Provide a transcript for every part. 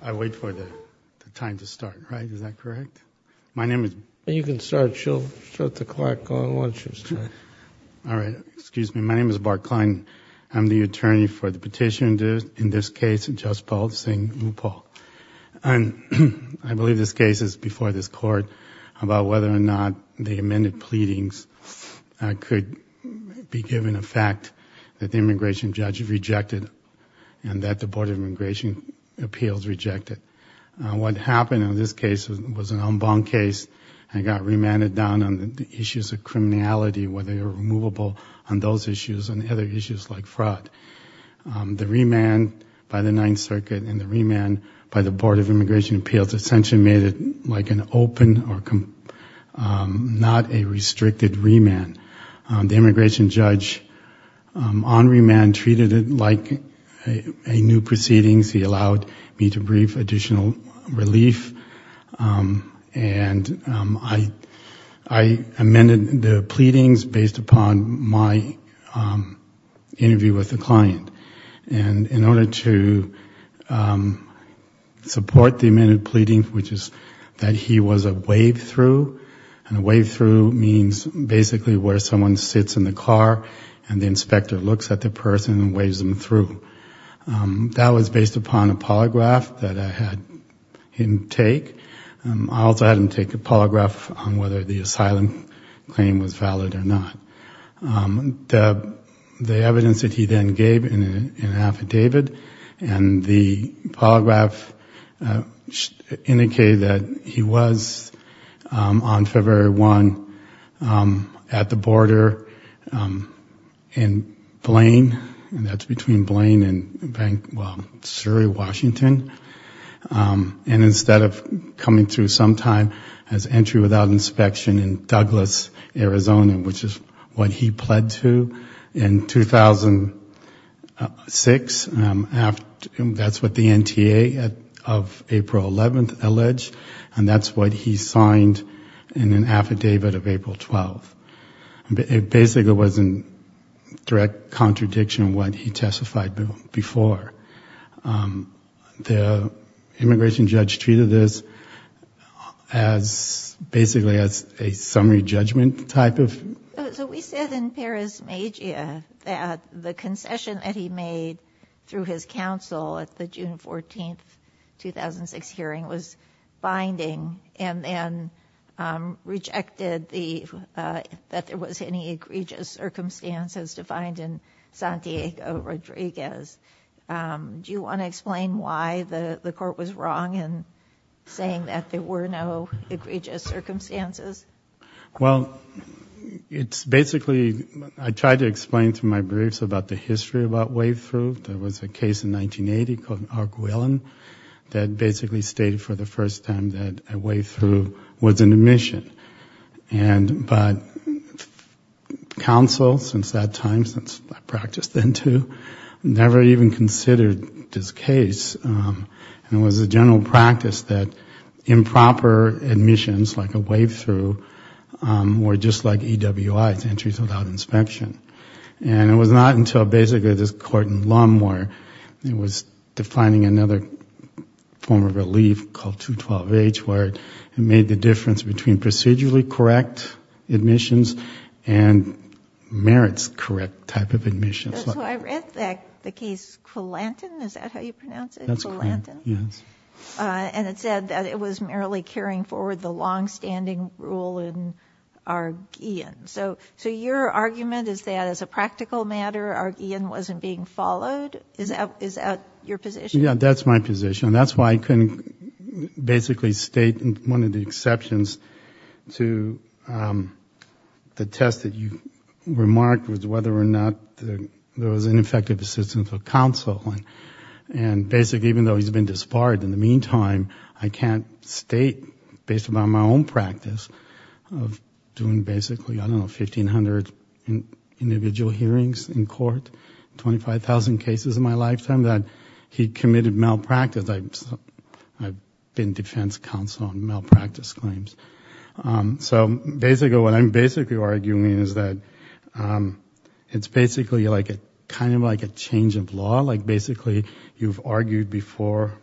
I wait for the time to start right is that correct? My name is... You can start she'll shut the clock on once you start. All right excuse me my name is Bart Klein I'm the attorney for the petition in this case Jaspal Singh Uppal and I believe this case is before this court about whether or not the amended pleadings could be given effect that the immigration judge rejected and that the Board of Immigration Appeals rejected. What happened in this case was an en banc case and got remanded down on the issues of criminality whether you're removable on those issues and other issues like fraud. The remand by the Ninth Circuit and the remand by the Board of Immigration Appeals essentially made it like an open or not a restricted remand. The immigration judge on remand treated it like a new proceedings he allowed me to brief additional relief and I amended the pleadings based upon my interview with the client and in order to support the amended pleading which is that he was a wave through and a wave through means basically where someone sits in the car and the inspector looks at the person and waves them through. That was based upon a polygraph that I had him take. I also had him take a polygraph on whether the gave in an affidavit and the polygraph indicated that he was on February 1 at the border in Blaine and that's between Blaine and Surrey, Washington and instead of coming through sometime as entry without inspection in Douglas, Arizona which is what he pled to in 2006 and that's what the NTA of April 11th alleged and that's what he signed in an affidavit of April 12th. It basically was in direct contradiction what he testified before. The immigration judgment type of? So we said in Paris Magia that the concession that he made through his counsel at the June 14th 2006 hearing was binding and then rejected that there was any egregious circumstances defined in Santiago Rodriguez. Do you want to explain why the the court was wrong in saying that there were no egregious circumstances? Well it's basically I tried to explain to my briefs about the history about wave through. There was a case in 1980 called Arguellan that basically stated for the first time that a wave through was an omission and but counsel since that time, since I practiced then too, never even proper admissions like a wave through were just like EWIs, entries without inspection and it was not until basically this court in Longmore, it was defining another form of relief called 212H where it made the difference between procedurally correct admissions and merits correct type of admissions. So I read the case Quillanton, is that how you pronounce it? And it said that it was merely carrying forward the long-standing rule in Arguellan. So your argument is that as a practical matter Arguellan wasn't being followed? Is that your position? Yeah that's my position. That's why I couldn't basically state one of the there was ineffective assistance of counsel and basically even though he's been disbarred in the meantime I can't state based on my own practice of doing basically I don't know 1,500 individual hearings in court, 25,000 cases in my lifetime that he committed malpractice. I've been defense counsel on malpractice claims. So basically what I'm basically arguing is that it's basically like a kind of like a change of law. Like basically you've argued before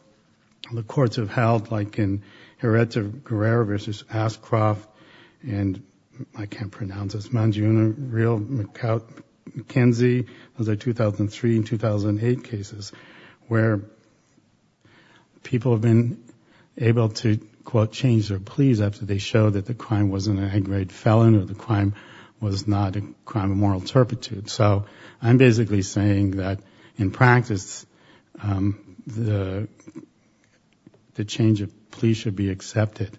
the courts have held like in Hereta-Guerrero versus Ashcroft and I can't pronounce this, Mangione, McKenzie. Those are 2003 and 2008 cases where people have been able to quote change their pleas after they show that the crime wasn't a basically saying that in practice the change of plea should be accepted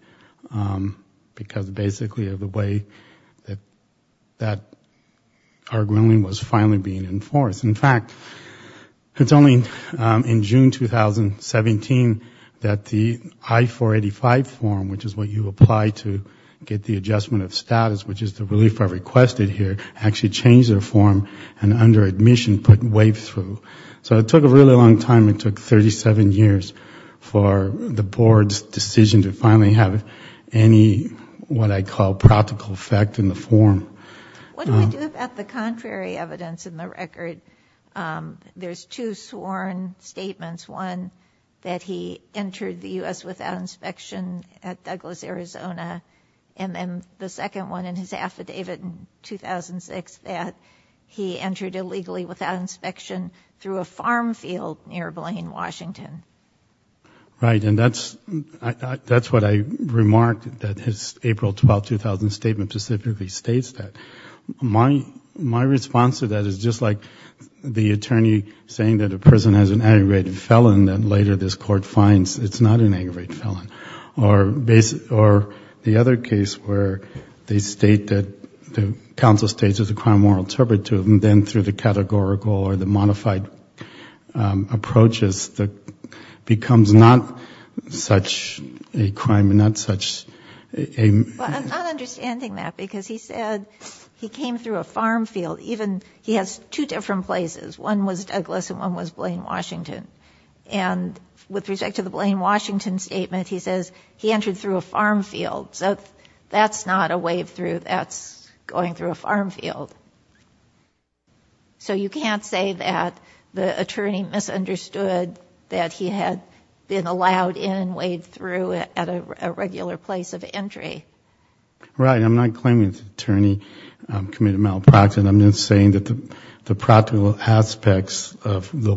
because basically of the way that that Arguellan was finally being enforced. In fact, it's only in June 2017 that the I-485 form, which is what you apply to get the adjustment of status, which is the relief I requested here, actually changed their form and under admission put waived through. So it took a really long time. It took 37 years for the board's decision to finally have any what I call practical effect in the form. What do I do about the contrary evidence in the record? There's two sworn statements. One that he entered the U.S. without inspection at Douglas, Arizona and then the second one in his affidavit in 2006 that he entered illegally without inspection through a farm field near Blaine, Washington. Right and that's what I remarked that his April 12, 2000 statement specifically states that. My response to that is just like the attorney saying that a person has an aggravated felon that later this court finds it's not an aggravated felon. Or the other case where they state that the counsel states it's a crime of moral turpitude and then through the categorical or the modified approaches that becomes not such a crime and not such a. I'm not understanding that because he said he came through a farm field even he has two different places. One was Douglas and one was Blaine, Washington and with respect to the Blaine, Washington statement he says he entered through a farm field. So that's not a wave-through that's going through a farm field. So you can't say that the attorney misunderstood that he had been allowed in and waved through at a regular place of entry. Right I'm not claiming the attorney committed malpractice. I'm just saying that the practical aspects of the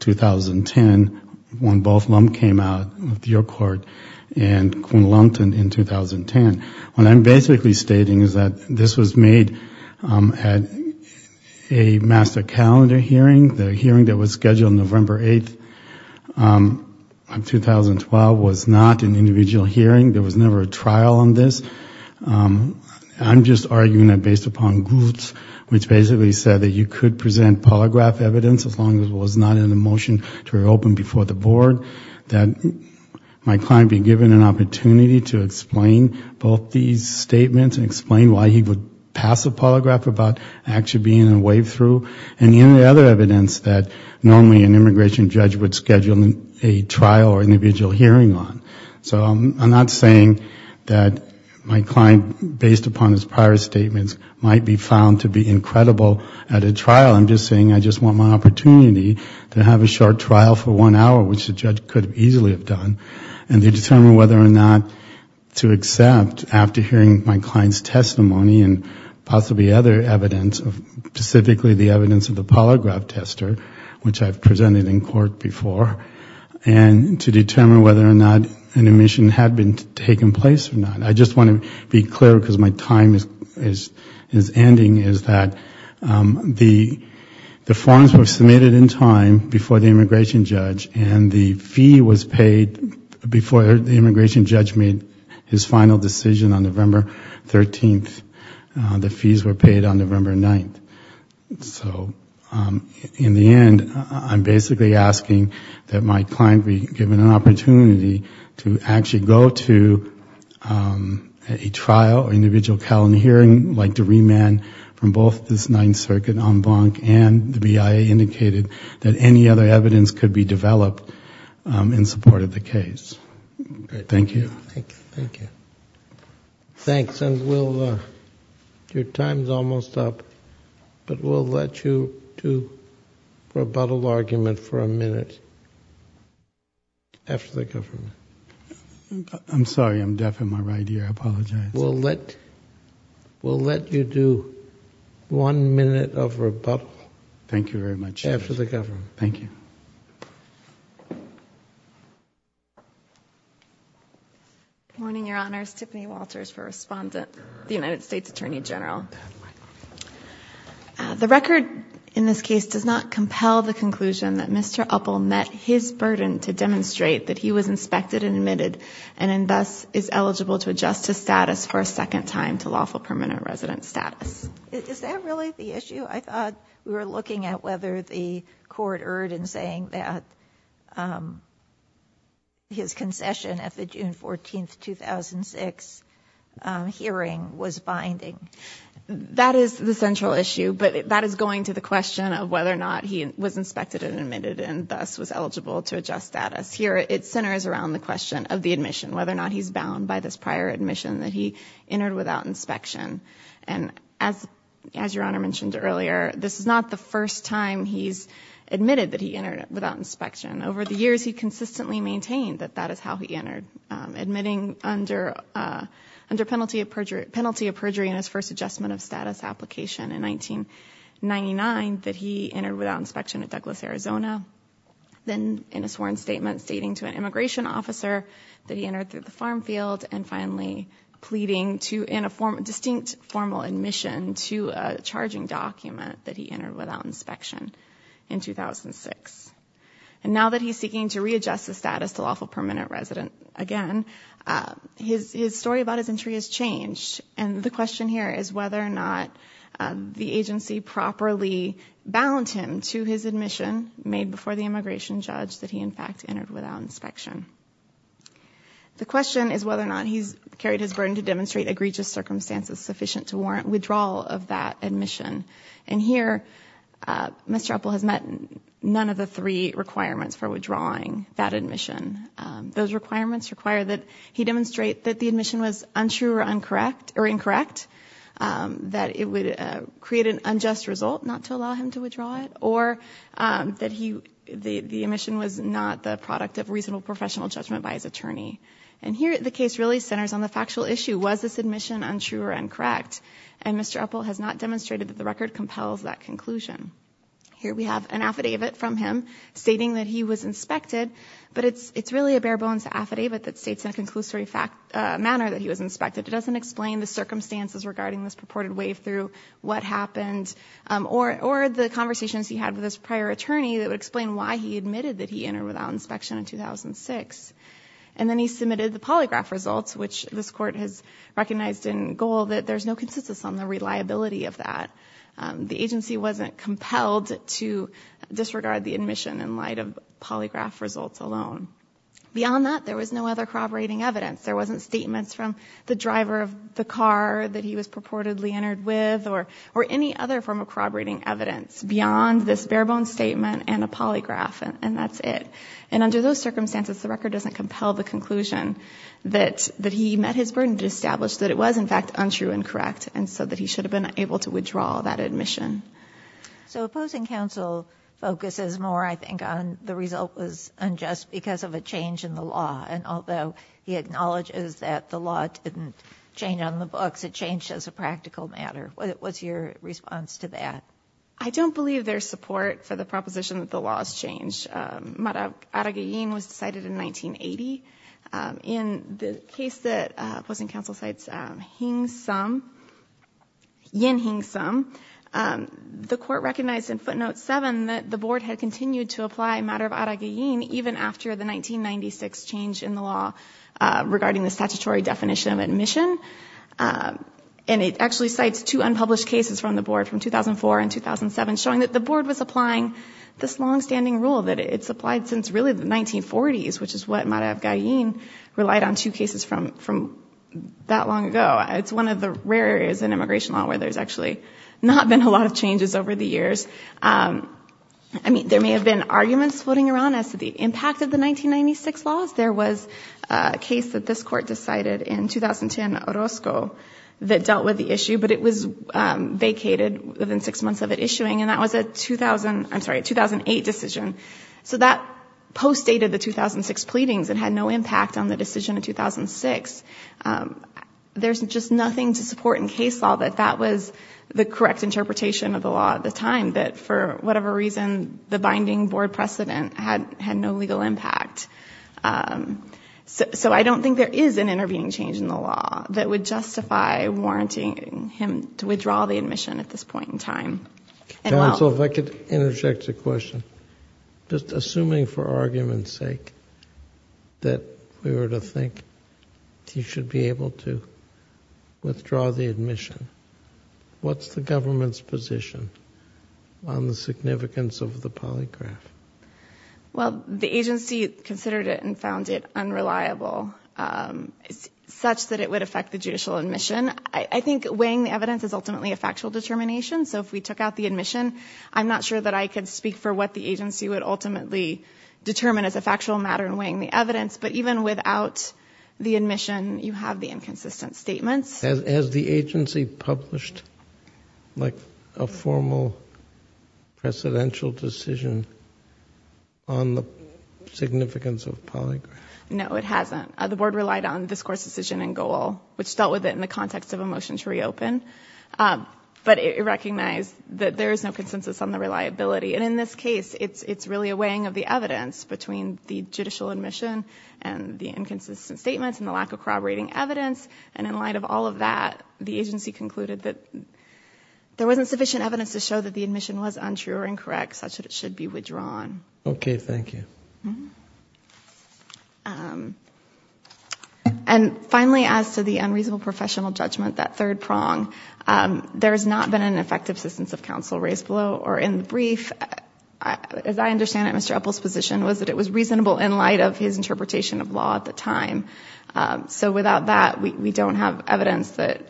2010 when both Lum came out of the court and Quinn Lungton in 2010. What I'm basically stating is that this was made at a master calendar hearing. The hearing that was scheduled November 8th of 2012 was not an individual hearing. There was never a trial on this. I'm just arguing that based upon groups which basically said that you could present polygraph evidence as long as it was not in the motion to reopen before the board that my client be given an opportunity to explain both these statements and explain why he would pass a polygraph about actually being in a wave-through and any other evidence that normally an immigration judge would schedule a trial or individual hearing on. So I'm not saying that my client based upon his prior statements might be found to be incredible at a trial. I'm just saying I just want my opportunity to have a short trial for one hour which the judge could easily have done and to determine whether or not to accept after hearing my client's testimony and possibly other evidence of specifically the evidence of the polygraph tester which I've presented in court before and to determine whether or not an admission had been taken place or not. I just want to be clear because my time is ending is that the forms were submitted in time before the immigration judge and the fee was paid before the immigration judge made his final decision on November 13th. The fees were paid on November 9th. So in the end I'm basically asking that my client be given an opportunity to actually go to a trial or individual calendar hearing like to remand from both this Ninth Circuit, En Blanc, and the BIA indicated that any other evidence could be developed in support of the case. Thank you. Thanks. Your time's almost up but we'll let you to rebuttal argument for a minute after the government. I'm sorry I'm deaf in my right ear. I apologize. We'll let you do one minute of rebuttal. Thank you very much. After the government. Thank you. Good morning, Your Honors. Tiffany Walters for respondent, the United States Attorney General. The record in this case does not compel the conclusion that Mr. Uppel met his burden to demonstrate that he was inspected and admitted and thus is eligible to adjust his status for a second time to lawful permanent resident status. Is that really the issue? I thought we were looking at whether the court erred in saying that his concession at the June 14th 2006 hearing was binding. That is the central issue but that is going to the question of whether or not he was inspected and admitted and thus was eligible to adjust status. Here it centers around the question of the admission, whether or not he's bound by this prior admission that he entered without inspection. As Your Honor mentioned earlier, this is not the first time he's admitted that he entered without inspection. Over the years, he consistently maintained that that is how he entered. Admitting under penalty of perjury in his first adjustment of status application in 1999 that he entered without inspection at Douglas, Arizona. Then in a sworn statement stating to an immigration officer that he entered through the farm field and finally pleading in a distinct formal admission to a charging document that he entered without inspection in 2006. Now that he's seeking to readjust the status to lawful permanent resident again, his story about his entry has changed and the question here is whether or not the agency properly bound him to his admission made before the immigration judge that he in fact entered without inspection. The question is whether or not he's carried his burden to demonstrate egregious circumstances sufficient to warrant withdrawal of that admission. Here, Mr. Uppel has met none of the three requirements for withdrawing that admission. Those requirements require that he demonstrate that the admission was untrue or incorrect, that it would create an issue that is not the product of reasonable professional judgment by his attorney. And here, the case really centers on the factual issue. Was this admission untrue or incorrect? And Mr. Uppel has not demonstrated that the record compels that conclusion. Here we have an affidavit from him stating that he was inspected, but it's really a bare-bones affidavit that states in a conclusory manner that he was inspected. It doesn't explain the circumstances regarding this purported wave-through, what happened, or the conversations he had with his prior attorney that would explain why he admitted that he entered without inspection in 2006. And then he submitted the polygraph results, which this court has recognized in goal that there's no consensus on the reliability of that. The agency wasn't compelled to disregard the admission in light of polygraph results alone. Beyond that, there was no other corroborating evidence. There wasn't statements from the driver of the car that he was purportedly entered with or any other form of corroborating evidence beyond this bare-bones statement and a polygraph, and that's it. And under those circumstances, the record doesn't compel the conclusion that he met his burden to establish that it was, in fact, untrue and correct, and so that he should have been able to withdraw that admission. So opposing counsel focuses more, I think, on the result was unjust because of a change in the law. And although he acknowledges that the law didn't change on the books, it changed as a practical matter. What's your response to that? I don't believe there's support for the proposition that the law has changed. Arag-e-Yin was decided in 1980. In the case that opposing counsel cites, Yin Hing Sum, the court recognized in footnote 7 that the board had continued to apply matter of Arag-e-Yin even after the 1996 change in the law regarding the statutory definition of admission. And it actually cites two unpublished cases from the board from 2004 and 2007, showing that the board was applying this long-standing rule that it's applied since really the 1940s, which is what matter of Arag-e-Yin relied on two cases from that long ago. It's one of the rare areas in immigration law where there's actually not been a lot of changes over the years. I mean, there may have been arguments floating around as to the impact of the 1996 laws. There was a case that this court decided in 2010, Orozco, that dealt with the issue, but it was vacated within six months of it issuing, and that was a 2008 decision. So that postdated the 2006 pleadings and had no impact on the decision in 2006. There's just nothing to support in case law that that was the correct interpretation of the law at the time, that for whatever reason, the binding board precedent had no legal impact. So I don't think there is an intervening change in the law that would justify warranting him to withdraw the admission at this point in time. Counsel, if I could interject a question. Just assuming for argument's sake that we were to you should be able to withdraw the admission, what's the government's position on the significance of the polygraph? Well, the agency considered it and found it unreliable, such that it would affect the judicial admission. I think weighing the evidence is ultimately a factual determination. So if we took out the admission, I'm not sure that I could speak for what the agency would ultimately determine as a factual matter in weighing the evidence. But even without the admission, you have the inconsistent statements. Has the agency published a formal presidential decision on the significance of polygraph? No, it hasn't. The board relied on discourse decision and goal, which dealt with it in the context of a motion to reopen. But it recognized that there is no consensus on the reliability. And in this case, it's really a weighing of the evidence between the judicial admission and the inconsistent statements and the lack of corroborating evidence. And in light of all of that, the agency concluded that there wasn't sufficient evidence to show that the admission was untrue or incorrect, such that it should be withdrawn. Okay. Thank you. And finally, as to the unreasonable professional judgment, that third prong, there has not been an effective assistance of counsel raised below or in the brief. As I understand it, Mr. Epple's position was that it was reasonable in light of his interpretation of law at the time. So without that, we don't have evidence that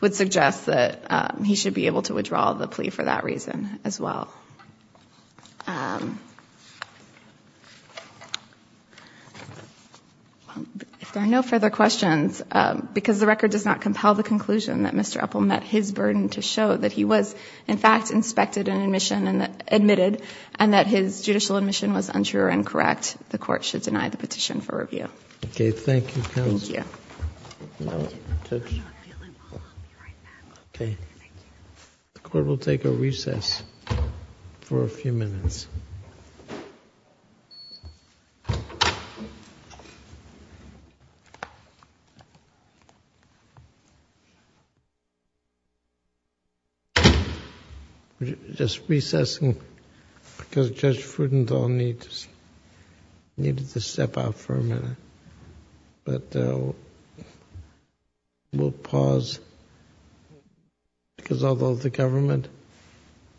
would suggest that he should be able to withdraw the plea for that reason as well. If there are no further questions, because the record does not compel the conclusion that Mr. Epple met his burden to show that he was, in fact, inspected and admitted and that his judicial admission was untrue or incorrect, the court should deny the petition for review. Okay. Thank you. The court will take a recess for a few minutes. We're just recessing because Judge Fruedenthal needed to step out for a minute. But we'll pause because although the government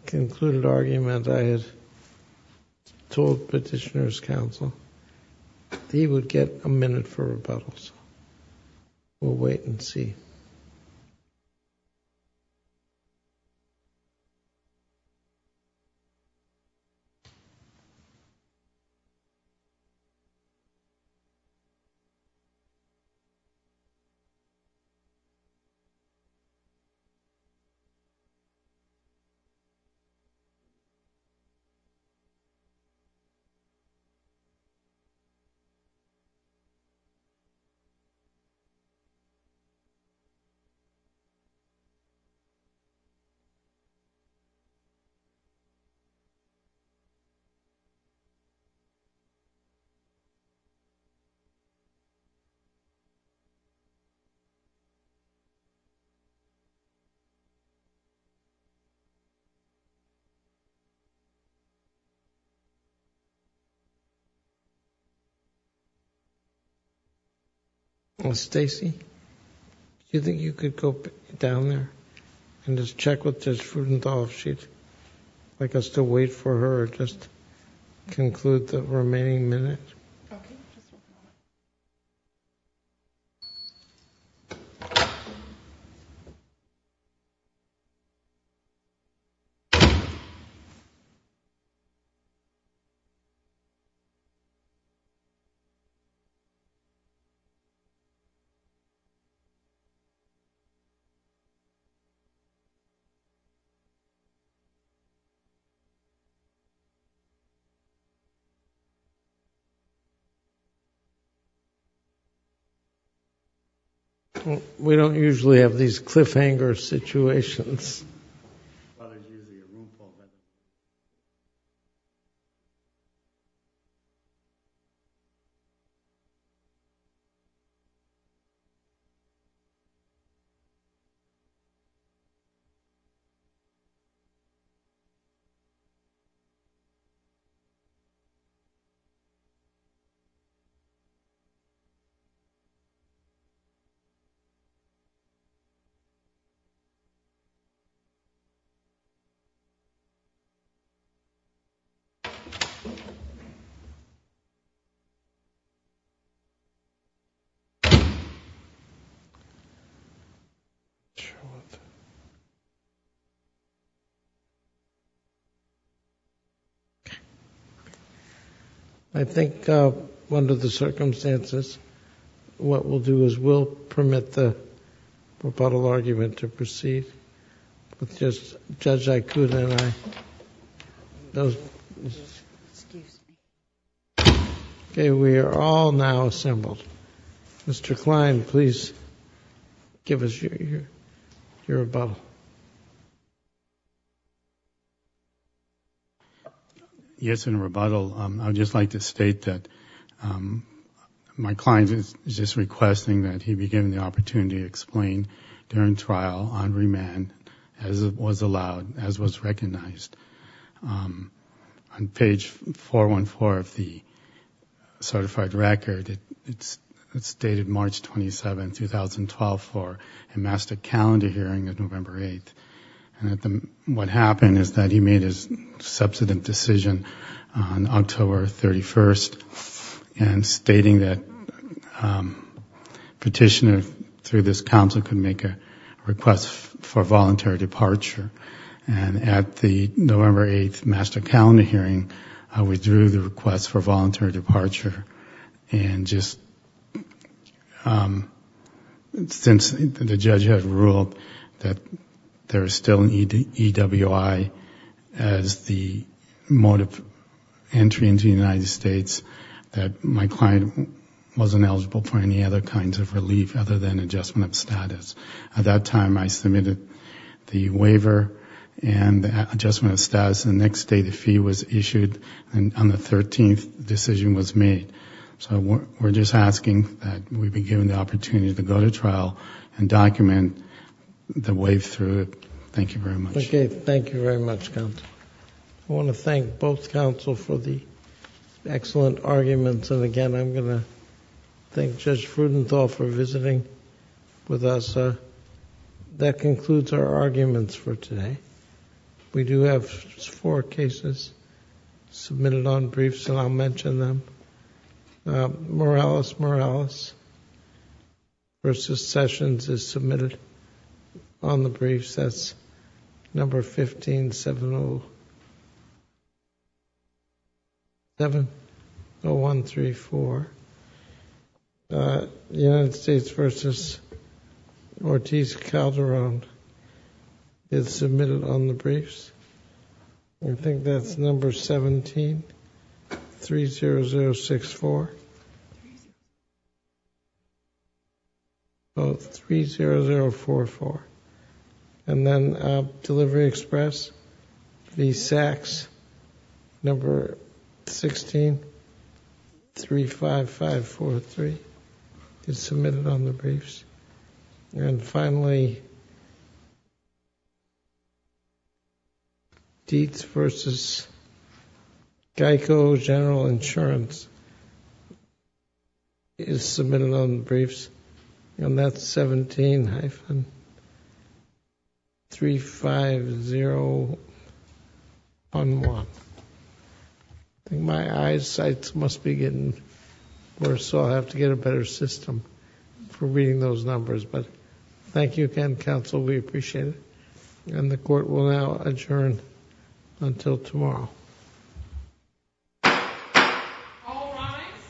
concluded argument, I had told Petitioner's counsel that he would get a minute for rebuttal, so we'll wait and see. Okay. OKay. I guess to wait for her just conclude the remaining minutes. We don't usually have these cliffhanger situations. I think, under the circumstances, what we'll do is we'll permit the rebuttal argument to proceed with Judge Aikuda and I. Okay, we are all now assembled. Mr. Klein, please give us your rebuttal. Yes, in rebuttal, I would just like to state that my client is just requesting that he be given the opportunity to explain during trial on remand as it was allowed, as was recognized. On page 414 of the certified record, it's dated March 27, 2012, for a master calendar hearing on November 8th. And what happened is that he made his substantive decision on October 31st and stating that petitioner through this council could make a request for voluntary departure. And at the November 8th master calendar hearing, I withdrew the request for voluntary departure. And just since the judge had ruled that there is still an EWI as the mode of entry into the United States, that my client wasn't eligible for any other kinds of relief other than adjustment of status. At that time, I submitted the waiver and adjustment of status. And the next day, the fee was issued and on the 13th, the decision was made. So we're just asking that we be given the opportunity to go to trial and document the way through it. Thank you very much. Okay, thank you very much, counsel. I want to thank both counsel for the excellent arguments. And again, I'm going to thank Judge Rudenthal for visiting with us. That concludes our arguments for today. We do have four cases submitted on briefs, and I'll mention them. Morales v. Sessions is submitted on the briefs. I think that's number 1570134. United States v. Ortiz-Calderon is submitted on the briefs. I think that's number 1730064. Oh, 30044. And then Delivery Express v. Sachs, number 1635543 is submitted on the briefs. And finally, Dietz v. Geico General Insurance is submitted on the briefs. And that's 17-35011. I think my eyesight must be getting worse, so I'll have to get a better system for reading those numbers. But thank you again, counsel. We appreciate it. And the Court will now adjourn until tomorrow. All rise.